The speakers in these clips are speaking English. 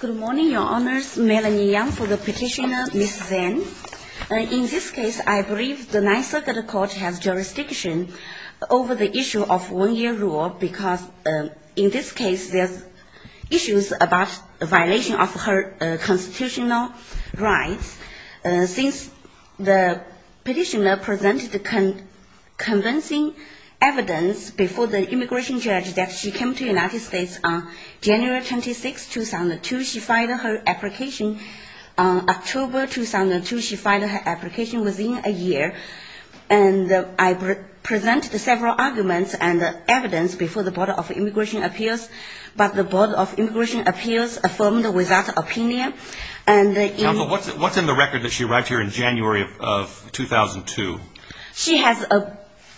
Good morning, your honors. Melanie Yang for the petitioner, Ms. Zeng. In this case, I believe the Ninth Circuit Court has jurisdiction over the issue of one-year rule because in this case there's issues about violation of her constitutional rights. Since the petitioner presented convincing evidence before the immigration judge that she came to the United States on January 26, 2002. She filed her application on October 2002. She filed her application within a year. And I presented several arguments and evidence before the Board of Immigration Appeals, but the Board of Immigration Appeals affirmed without opinion. Counsel, what's in the record that she arrived here in January of 2002? She has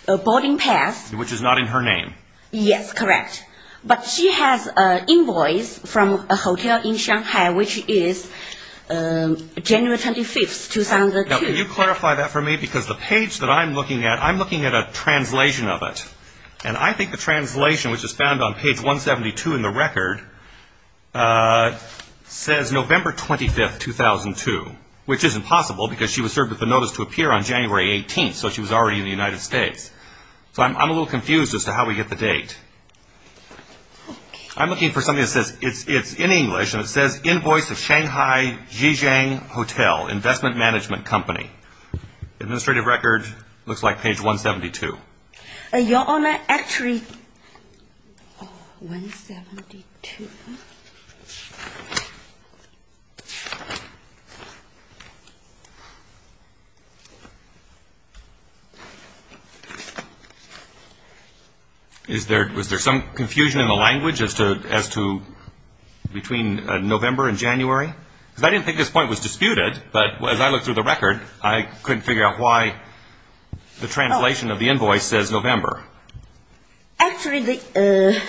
a boarding pass. Which is not in her name. Yes, correct. But she has an invoice from a hotel in Shanghai, which is January 25, 2002. Now, can you clarify that for me? Because the page that I'm looking at, I'm looking at a translation of it. And I think the translation, which is found on page 172 in the record, says November 25, 2002. Which is impossible because she was served with a notice to appear on January 18, so she was already in the United States. So I'm a little confused as to how we get the date. I'm looking for something that says it's in English, and it says invoice of Shanghai Zhejiang Hotel, investment management company. Administrative record looks like page 172. Your Honor, actually 172. Was there some confusion in the language as to between November and January? Because I didn't think this point was disputed, but as I looked through the record, I couldn't figure out why the translation of the invoice says November. Actually, the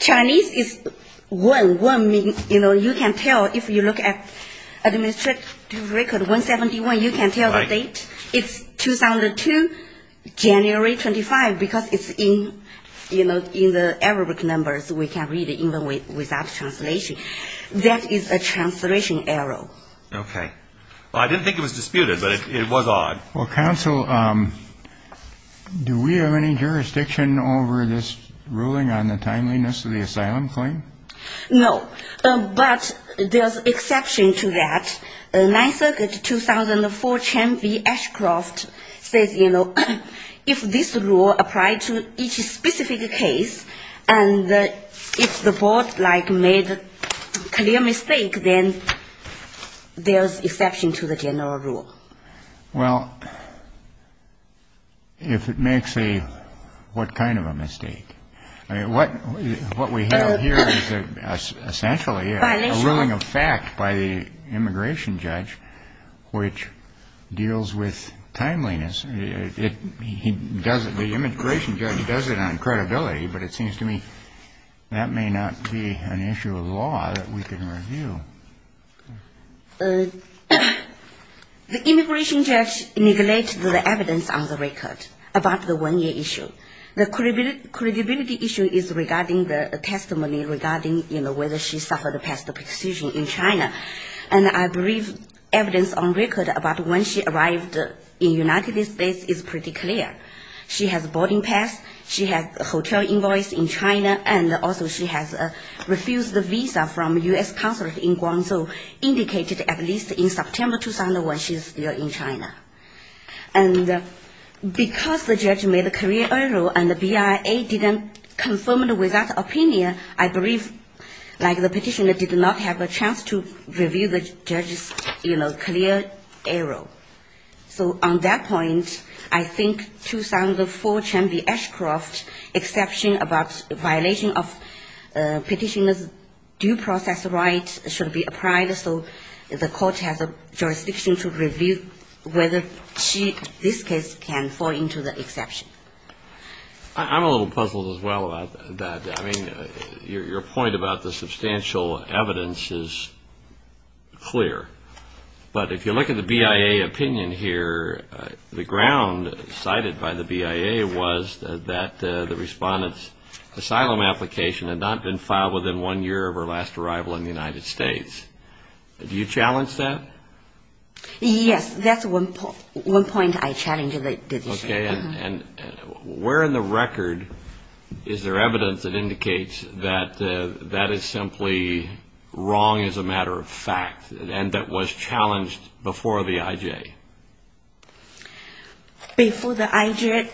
Chinese is, you know, you can tell if you look at administrative record 171, you can tell the date. It's 2002, January 25, because it's in, you know, in the Arabic numbers. We can read it even without translation. That is a translation error. Okay. Well, I didn't think it was disputed, but it was odd. Well, counsel, do we have any jurisdiction over this ruling on the timeliness of the asylum claim? No. But there's exception to that. Ninth Circuit 2004 Chen v. Ashcroft says, you know, if this rule applies to each specific case, and if the board, like, made a clear mistake, then there's exception to the general rule. Well, if it makes a what kind of a mistake? I mean, what we have here is essentially a ruling of fact by the immigration judge, which deals with timeliness. The immigration judge does it on credibility, but it seems to me that may not be an issue of law that we can review. The immigration judge neglected the evidence on the record about the one-year issue. The credibility issue is regarding the testimony regarding, you know, whether she suffered past the precision in China. And I believe evidence on record about when she arrived in United States is pretty clear. She has a boarding pass. She has a hotel invoice in China, and also she has a refused visa from U.S. consulate in Guangzhou, indicated at least in September 2001 she's still in China. And because the judge made a career error and the BIA didn't confirm with that opinion, I believe, like, the petitioner did not have a chance to review the judge's, you know, career error. So on that point, I think 2004 Chen V. Ashcroft exception about violation of petitioner's due process rights should be applied, so the court has a jurisdiction to review whether she, this case, can fall into the exception. I'm a little puzzled as well about that. I mean, your point about the substantial evidence is clear. But if you look at the BIA opinion here, the ground cited by the BIA was that the respondent's asylum application had not been filed within one year of her last arrival in the United States. Do you challenge that? Yes, that's one point I challenge the issue. Okay, and where in the record is there evidence that indicates that that is simply wrong as a matter of fact and that was challenged before the IJ? Before the IJ,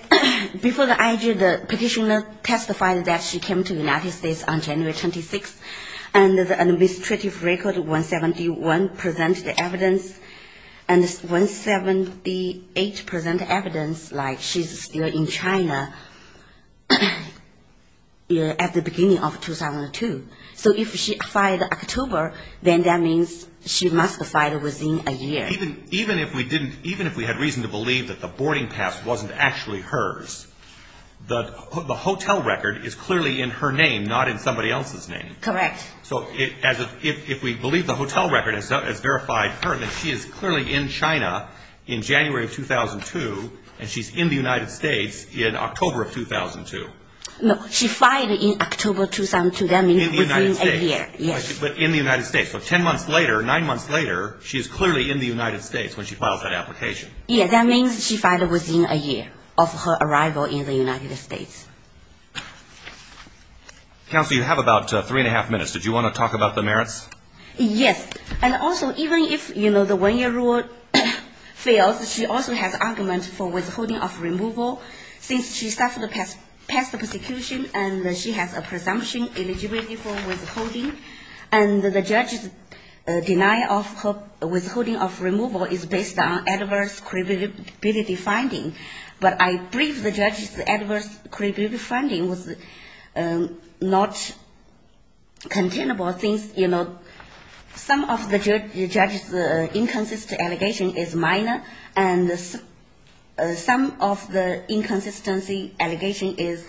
the petitioner testified that she came to the United States on January 26th, and the administrative record 171 presents the evidence, and 178 presents evidence like she's still in China at the beginning of 2002. So if she filed October, then that means she must have filed within a year. Even if we had reason to believe that the boarding pass wasn't actually hers, the hotel record is clearly in her name, not in somebody else's name. Correct. So if we believe the hotel record has verified her, then she is clearly in China in January of 2002, and she's in the United States in October of 2002. No, she filed in October of 2002, that means within a year. But in the United States, so ten months later, nine months later, she's clearly in the United States when she files that application. Yes, that means she filed within a year of her arrival in the United States. Counsel, you have about three-and-a-half minutes. Did you want to talk about the merits? Yes. And also, even if, you know, the one-year rule fails, she also has argument for withholding of removal, since she suffered past persecution, and she has a presumption eligibility for withholding. And the judge's denial of withholding of removal is based on adverse credibility finding. But I believe the judge's adverse credibility finding was not containable, since, you know, some of the judge's inconsistency allegation is minor, and some of the inconsistency allegation is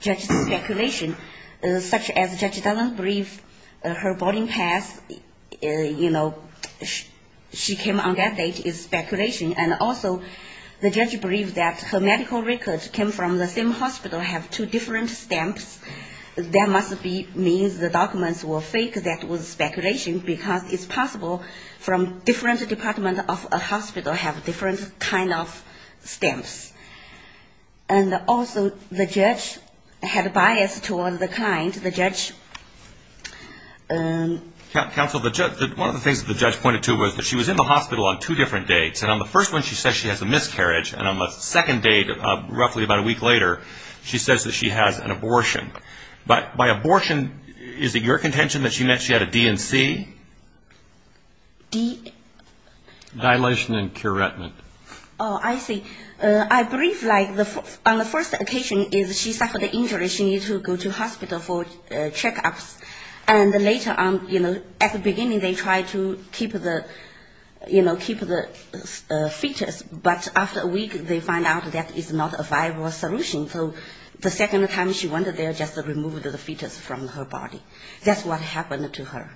just speculation, such as the judge doesn't believe her boarding pass, you know, she came on that date is speculation. And also, the judge believes that her medical records came from the same hospital, have two different stamps. That must be means the documents were fake, that was speculation, because it's possible from different department of a hospital have different kind of stamps. And also, the judge had bias toward the kind, the judge. Counsel, one of the things that the judge pointed to was that she was in the hospital on two different dates. And on the first one, she says she has a miscarriage, and on the second date, roughly about a week later, she says that she has an abortion. But by abortion, is it your contention that she meant she had a D&C? Dilation and curentment. Oh, I see. I believe, like, on the first occasion, she suffered injury, she needed to go to hospital for checkups. And later on, you know, at the beginning, they tried to keep the fetus, but after a week, they found out that is not a viable solution. So the second time she went there, just removed the fetus from her body. That's what happened to her.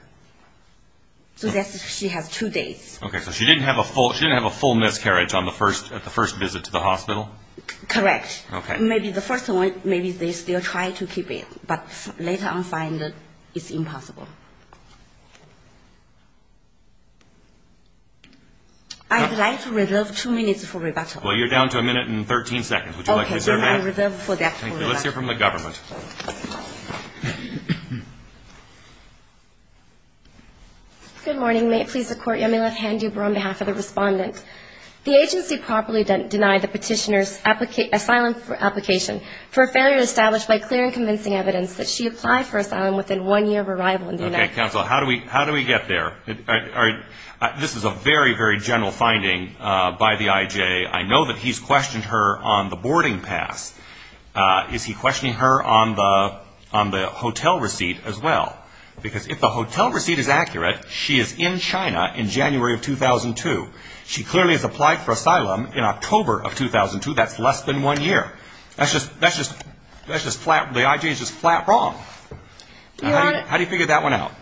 So she has two days. Okay, so she didn't have a full miscarriage on the first visit to the hospital? Correct. Maybe the first one, maybe they still try to keep it, but later on find it's impossible. I would like to reserve two minutes for rebuttal. Well, you're down to a minute and 13 seconds. Would you like to reserve that? Let's hear from the government. Okay, counsel, how do we get there? This is a very, very general finding by the IJ. I know that he's questioned her on the boarding pass. Is he questioning her on the hotel receipt as well? Because if the hotel receipt is accurate, she is in China in January of 2002. She clearly has applied for asylum in October of 2002. That's less than one year. That's just flat. The IJ is just flat wrong. How do you figure that one out?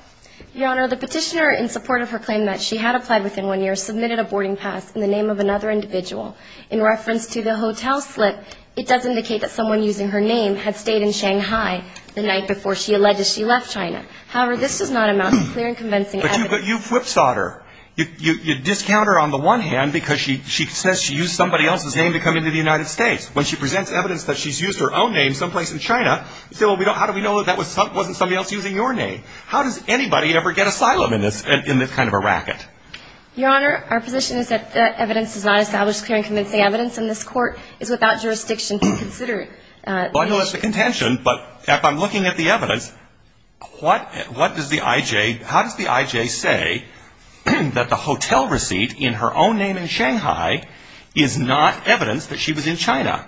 Your Honor, the petitioner in support of her claim that she had applied within one year submitted a boarding pass in the name of another individual. In reference to the hotel slip, it does indicate that someone using her name had stayed in Shanghai the night before she alleged she left China. However, this does not amount to clear and convincing evidence. But you whipsawed her. You discount her on the one hand because she says she used somebody else's name to come into the United States. When she presents evidence that she's used her own name someplace in China, you say, well, how do we know that that wasn't somebody else using your name? How does anybody ever get asylum in this kind of a racket? Your Honor, our position is that that evidence is not established clear and convincing evidence, and this Court is without jurisdiction to consider it. Well, I know that's the contention, but if I'm looking at the evidence, what does the IJ – how does the IJ say that the hotel receipt in her own name in Shanghai is not evidence that she was in China?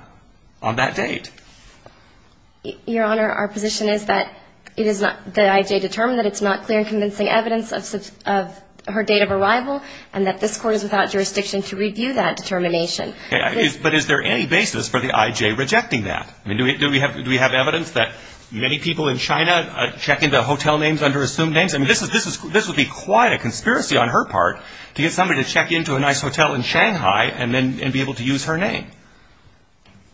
On that date. Your Honor, our position is that the IJ determined that it's not clear and convincing evidence of her date of arrival, and that this Court is without jurisdiction to review that determination. But is there any basis for the IJ rejecting that? Do we have evidence that many people in China check into hotel names under assumed names? I mean, this would be quite a conspiracy on her part to get somebody to check into a nice hotel in Shanghai and then be able to use her name.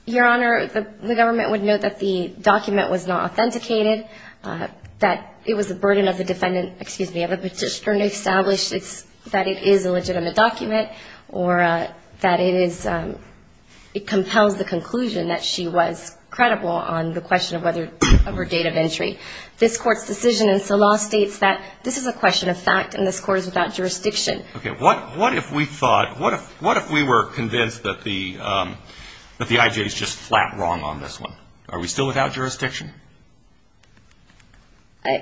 Your Honor, the government would note that the document was not authenticated, that it was the burden of the defendant – excuse me, of the petitioner – to establish that it is a legitimate document, or that it is – it compels the conclusion that she was credible on the question of whether – of her date of entry. This Court's decision in the law states that this is a question of fact, and this Court is without jurisdiction. Okay. What if we thought – what if we were convinced that the IJ is just flat wrong on this one? Are we still without jurisdiction?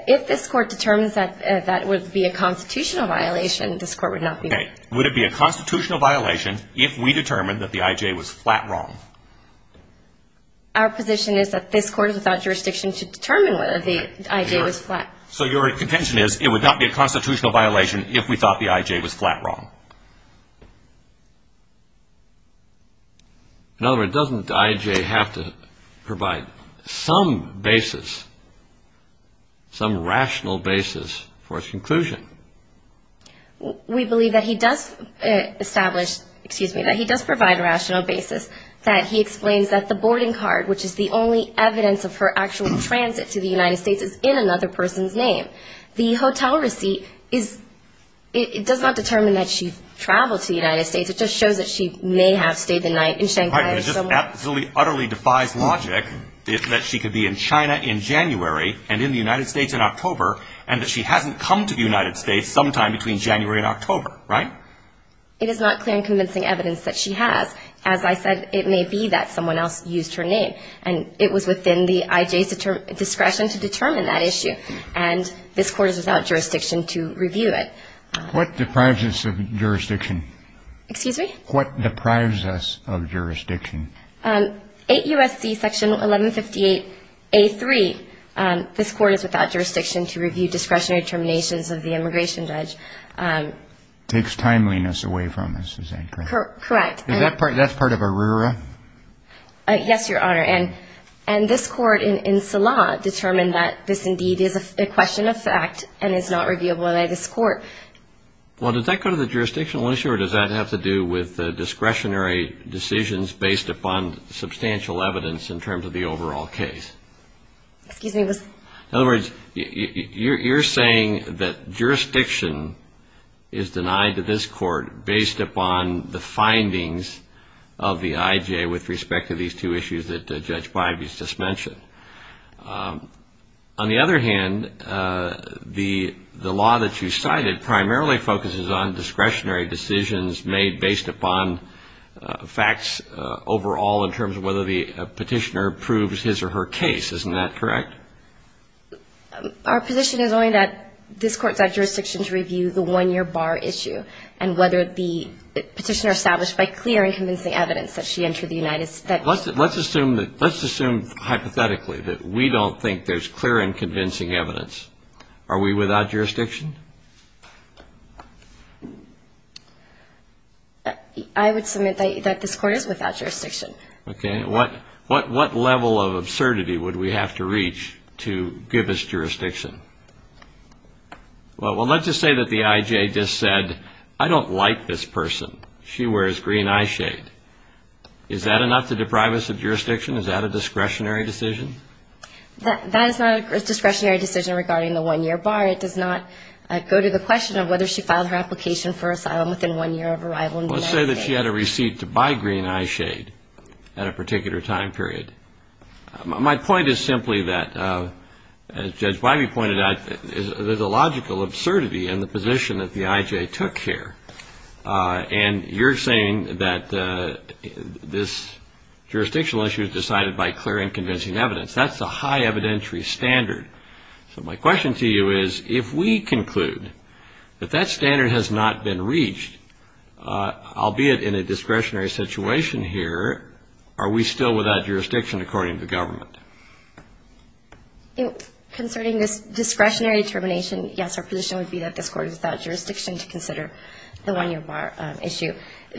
If this Court determines that that would be a constitutional violation, this Court would not be – Okay. Would it be a constitutional violation if we determined that the IJ was flat wrong? Our position is that this Court is without jurisdiction to determine whether the IJ was flat. So your contention is it would not be a constitutional violation if we thought the IJ was flat wrong. In other words, doesn't the IJ have to provide some basis, some rational basis for its conclusion? We believe that he does establish – excuse me, that he does provide a rational basis, that he explains that the boarding card, which is the only evidence of her actual transit to the United States, is in another person's name. The hotel receipt is – it does not determine that she traveled to the United States. It just shows that she may have stayed the night in Shanghai or somewhere. It absolutely, utterly defies logic that she could be in China in January and in the United States in October and that she hasn't come to the United States sometime between January and October, right? It is not clear and convincing evidence that she has. As I said, it may be that someone else used her name. And it was within the IJ's discretion to determine that issue. And this Court is without jurisdiction to review it. What deprives us of jurisdiction? Excuse me? What deprives us of jurisdiction? 8 U.S.C. Section 1158.A.3, this Court is without jurisdiction to review discretionary determinations of the immigration judge. Takes timeliness away from us, is that correct? Correct. Is that part – that's part of ARERA? Yes, Your Honor. And this Court in Salah determined that this indeed is a question of fact and is not reviewable by this Court. Well, does that go to the jurisdictional issue or does that have to do with discretionary decisions based upon substantial evidence in terms of the overall case? Excuse me? In other words, you're saying that jurisdiction is denied to this Court based upon the findings of the IJ with respect to these two issues that Judge Bybee's just mentioned. On the other hand, the law that you cited primarily focuses on discretionary decisions made based upon facts overall in terms of whether the petitioner proves his or her case. Isn't that correct? Our position is only that this Court is without jurisdiction to review the one-year bar issue and whether the petitioner established by clear and convincing evidence that she entered the United States. Let's assume that – let's assume hypothetically that we don't think there's clear and convincing evidence. Are we without jurisdiction? I would submit that this Court is without jurisdiction. Okay. What level of absurdity would we have to reach to give us jurisdiction? Well, let's just say that the IJ just said, I don't like this person. She wears green eye shade. Is that enough to deprive us of jurisdiction? Is that a discretionary decision? That is not a discretionary decision regarding the one-year bar. It does not go to the question of whether she filed her application for asylum within one year of arrival in the United States. Let's say that she had a receipt to buy green eye shade at a particular time period. My point is simply that, as Judge Bivey pointed out, there's a logical absurdity in the position that the IJ took here. And you're saying that this jurisdictional issue is decided by clear and convincing evidence. That's a high evidentiary standard. So my question to you is, if we conclude that that standard has not been reached, albeit in a discretionary situation here, are we still without jurisdiction according to government? Concerning this discretionary determination, yes, our position would be that this Court is without jurisdiction to consider the one-year bar issue.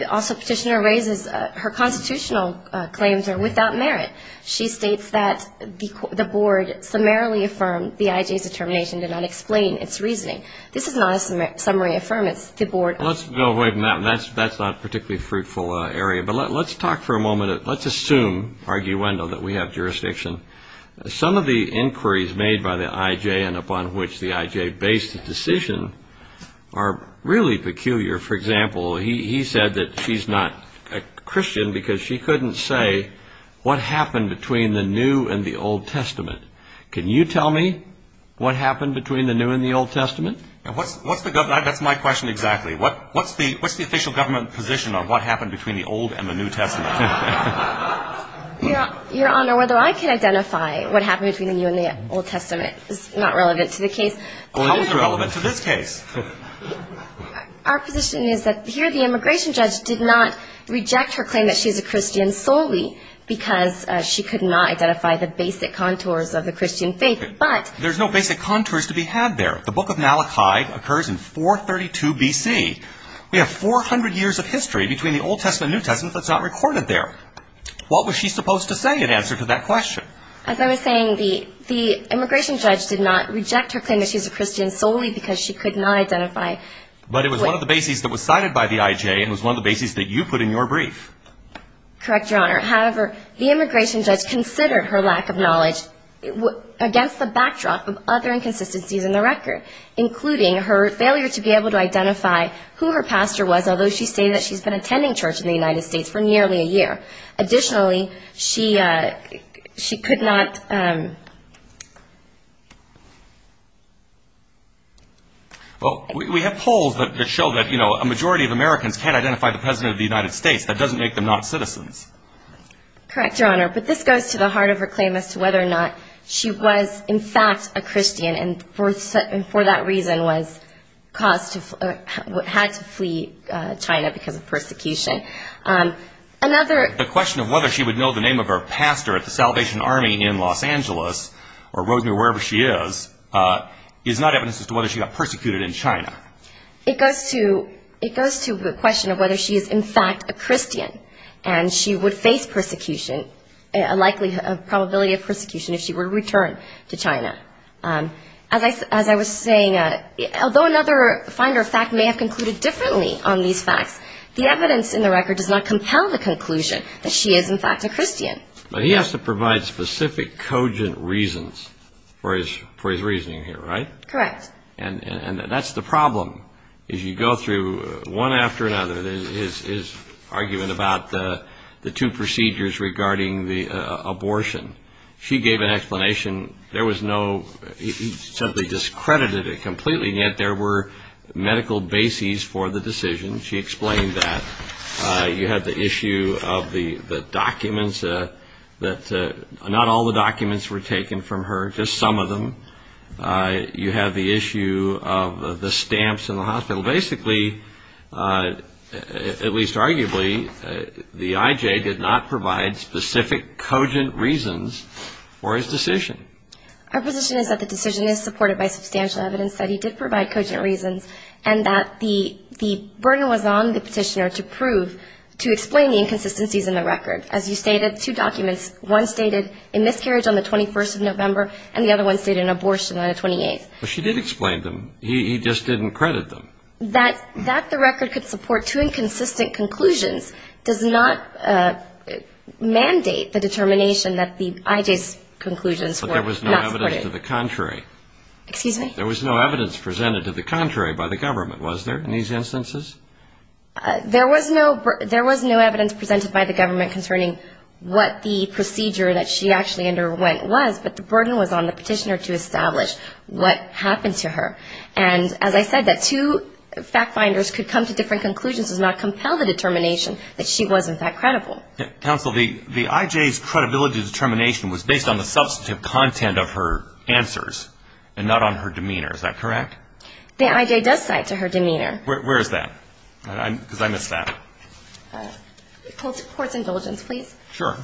Also, Petitioner raises her constitutional claims are without merit. She states that the Board summarily affirmed the IJ's determination to not explain its reasoning. This is not a summary affirmance. The Board – Let's go away from that. That's not a particularly fruitful area. But let's talk for a moment. Let's assume, arguendo, that we have jurisdiction. Some of the inquiries made by the IJ and upon which the IJ based the decision are really peculiar. For example, he said that she's not a Christian because she couldn't say what happened between the New and the Old Testament. Can you tell me what happened between the New and the Old Testament? That's my question exactly. What's the official government position on what happened between the Old and the New Testament? Your Honor, whether I can identify what happened between the New and the Old Testament is not relevant to the case. How is it relevant to this case? Our position is that here the immigration judge did not reject her claim that she's a Christian solely because she could not identify the basic contours of the Christian faith, but – There's no basic contours to be had there. The Book of Malachi occurs in 432 B.C. We have 400 years of history between the Old Testament and New Testament that's not recorded there. What was she supposed to say in answer to that question? As I was saying, the immigration judge did not reject her claim that she's a Christian solely because she could not identify – But it was one of the bases that was cited by the IJ and was one of the bases that you put in your brief. Correct, Your Honor. However, the immigration judge considered her lack of knowledge against the backdrop of other inconsistencies in the record, including her failure to be able to identify who her pastor was, although she stated that she's been attending church in the United States for nearly a year. Additionally, she could not – Well, we have polls that show that a majority of Americans can't identify the president of the United States. That doesn't make them not citizens. Correct, Your Honor. But this goes to the heart of her claim as to whether or not she was, in fact, a Christian and for that reason was caused to – had to flee China because of persecution. Another – The question of whether she would know the name of her pastor at the Salvation Army in Los Angeles, or Rosemary, wherever she is, is not evidence as to whether she got persecuted in China. It goes to the question of whether she is, in fact, a Christian and she would face persecution, a likely probability of persecution if she were to return to China. As I was saying, although another finder of fact may have concluded differently on these facts, the evidence in the record does not compel the conclusion that she is, in fact, a Christian. But he has to provide specific cogent reasons for his reasoning here, right? Correct. And that's the problem, is you go through one after another, his argument about the two procedures regarding the abortion. She gave an explanation. There was no – he simply discredited it completely, and yet there were medical bases for the decision. She explained that. You have the issue of the documents that – not all the documents were taken from her, just some of them. You have the issue of the stamps in the hospital. Basically, at least arguably, the IJ did not provide specific cogent reasons for his decision. Our position is that the decision is supported by substantial evidence that he did provide cogent reasons and that the burden was on the petitioner to prove – to explain the inconsistencies in the record. As you stated, two documents, one stated a miscarriage on the 21st of November, and the other one stated an abortion on the 28th. But she did explain them. He just didn't credit them. That the record could support two inconsistent conclusions does not mandate the determination that the IJ's conclusions were not supported. But there was no evidence to the contrary. Excuse me? There was no evidence presented to the contrary by the government, was there, in these instances? There was no evidence presented by the government concerning what the procedure that she actually underwent was, but the burden was on the petitioner to establish what happened to her. And as I said, that two fact-finders could come to different conclusions does not compel the determination that she was, in fact, credible. Counsel, the IJ's credibility determination was based on the substantive content of her answers and not on her demeanor. Is that correct? The IJ does cite to her demeanor. Where is that? Because I missed that. Courts indulgence, please. Sure.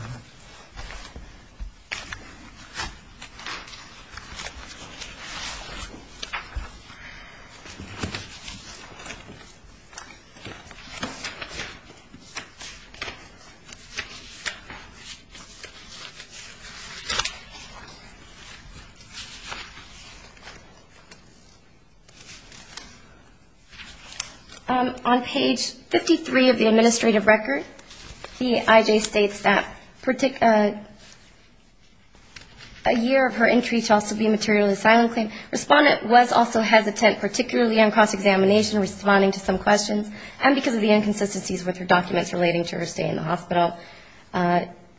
On page 53 of the administrative record, the IJ states that a year of her entry should also be a materially silent claim. Respondent was also hesitant, particularly on cross-examination, responding to some questions, and because of the inconsistencies with her documents relating to her stay in the hospital,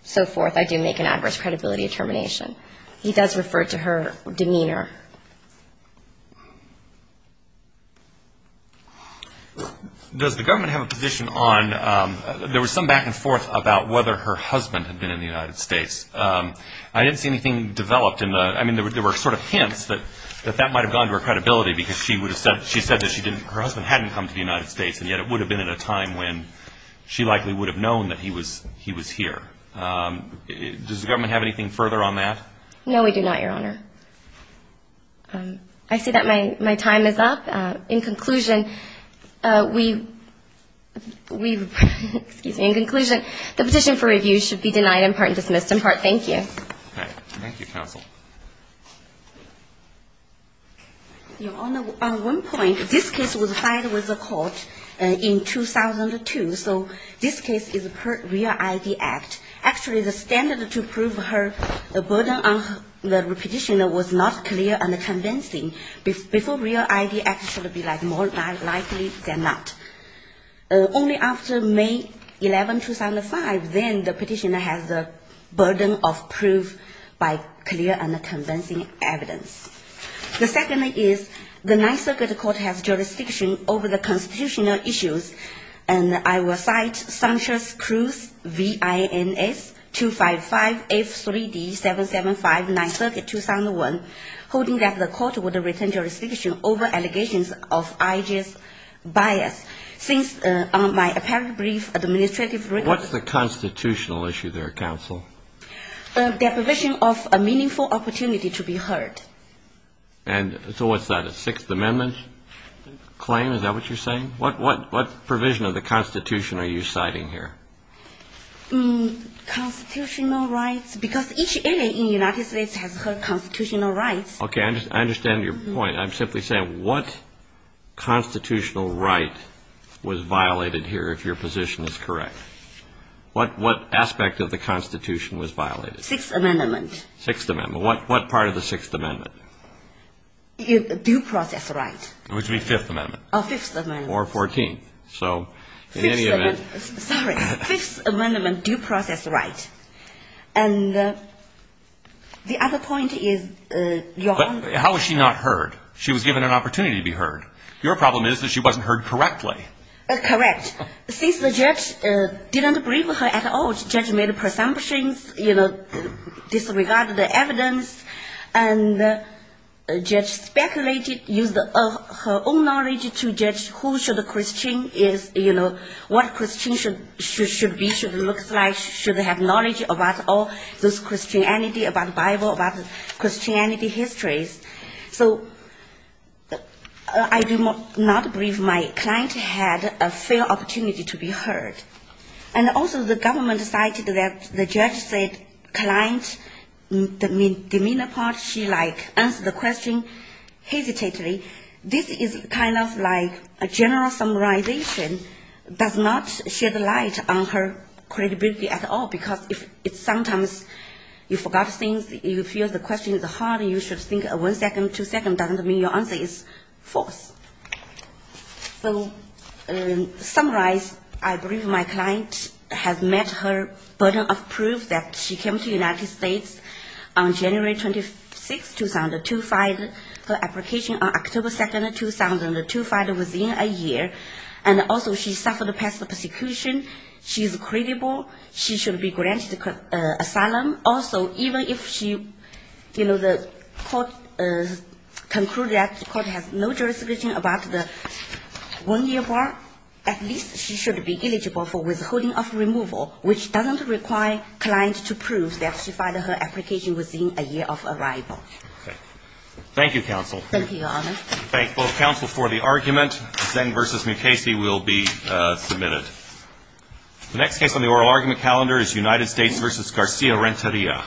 so forth, I do make an adverse credibility determination. The IJ does refer to her demeanor. Does the government have a position on, there was some back and forth about whether her husband had been in the United States. I didn't see anything developed in the, I mean, there were sort of hints that that might have gone to her credibility because she said that her husband hadn't come to the United States, and yet it would have been at a time when she likely would have known that he was here. Does the government have anything further on that? No, we do not, Your Honor. I see that my time is up. In conclusion, we've, excuse me, in conclusion, the petition for review should be denied in part and dismissed in part. Thank you. Thank you, counsel. Your Honor, on one point, this case was filed with the court in 2002, so this case is per REAL-ID Act. Actually, the standard to prove her burden on the petitioner was not clear and convincing. Before REAL-ID Act, it should have been more likely than not. Only after May 11, 2005, then the petitioner has the burden of proof by clear and convincing evidence. The second is the Ninth Circuit Court has jurisdiction over the constitutional issues, and I will cite Sanchez-Cruz, V.I.N.S. 255, F.3.D. 775, Ninth Circuit, 2001, holding that the court would return jurisdiction over allegations of I.G.'s bias. Since my apparent brief administrative record What's the constitutional issue there, counsel? The provision of a meaningful opportunity to be heard. And so what's that, a Sixth Amendment claim? Is that what you're saying? What provision of the Constitution are you citing here? Constitutional rights, because each area in the United States has constitutional rights. Okay, I understand your point. I'm simply saying what constitutional right was violated here, if your position is correct? What aspect of the Constitution was violated? Sixth Amendment. Sixth Amendment. What part of the Sixth Amendment? Due process right. Which means Fifth Amendment. Oh, Fifth Amendment. Or Fourteenth. So in any event. Fifth Amendment. Sorry. Fifth Amendment due process right. And the other point is, Your Honor. But how was she not heard? She was given an opportunity to be heard. Your problem is that she wasn't heard correctly. Correct. And the judge speculated, used her own knowledge to judge who should the Christian is, you know, what Christian should be, should look like, should have knowledge about all this Christianity, about Bible, about Christianity histories. So I do not believe my client had a fair opportunity to be heard. And also the government decided that the judge said client demeanor part, she like answered the question hesitantly. This is kind of like a general summarization does not shed light on her credibility at all, because if sometimes you forgot things, you feel the question is hard, you should think one second, two second doesn't mean your answer is false. So to summarize, I believe my client has met her burden of proof that she came to the United States on January 26, 2005. Her application on October 2, 2005 was in a year. And also she suffered a past persecution. She is credible. She should be granted asylum. Also, even if she, you know, the court concluded that the court has no jurisdiction about the one-year bar, at least she should be eligible for withholding of removal, which doesn't require clients to prove that she filed her application within a year of arrival. Okay. Thank you, counsel. Thank you, Your Honor. Thank both counsel for the argument. Zen versus Mukasey will be submitted. The next case on the oral argument calendar is United States versus Garcia-Renteria. Thank you.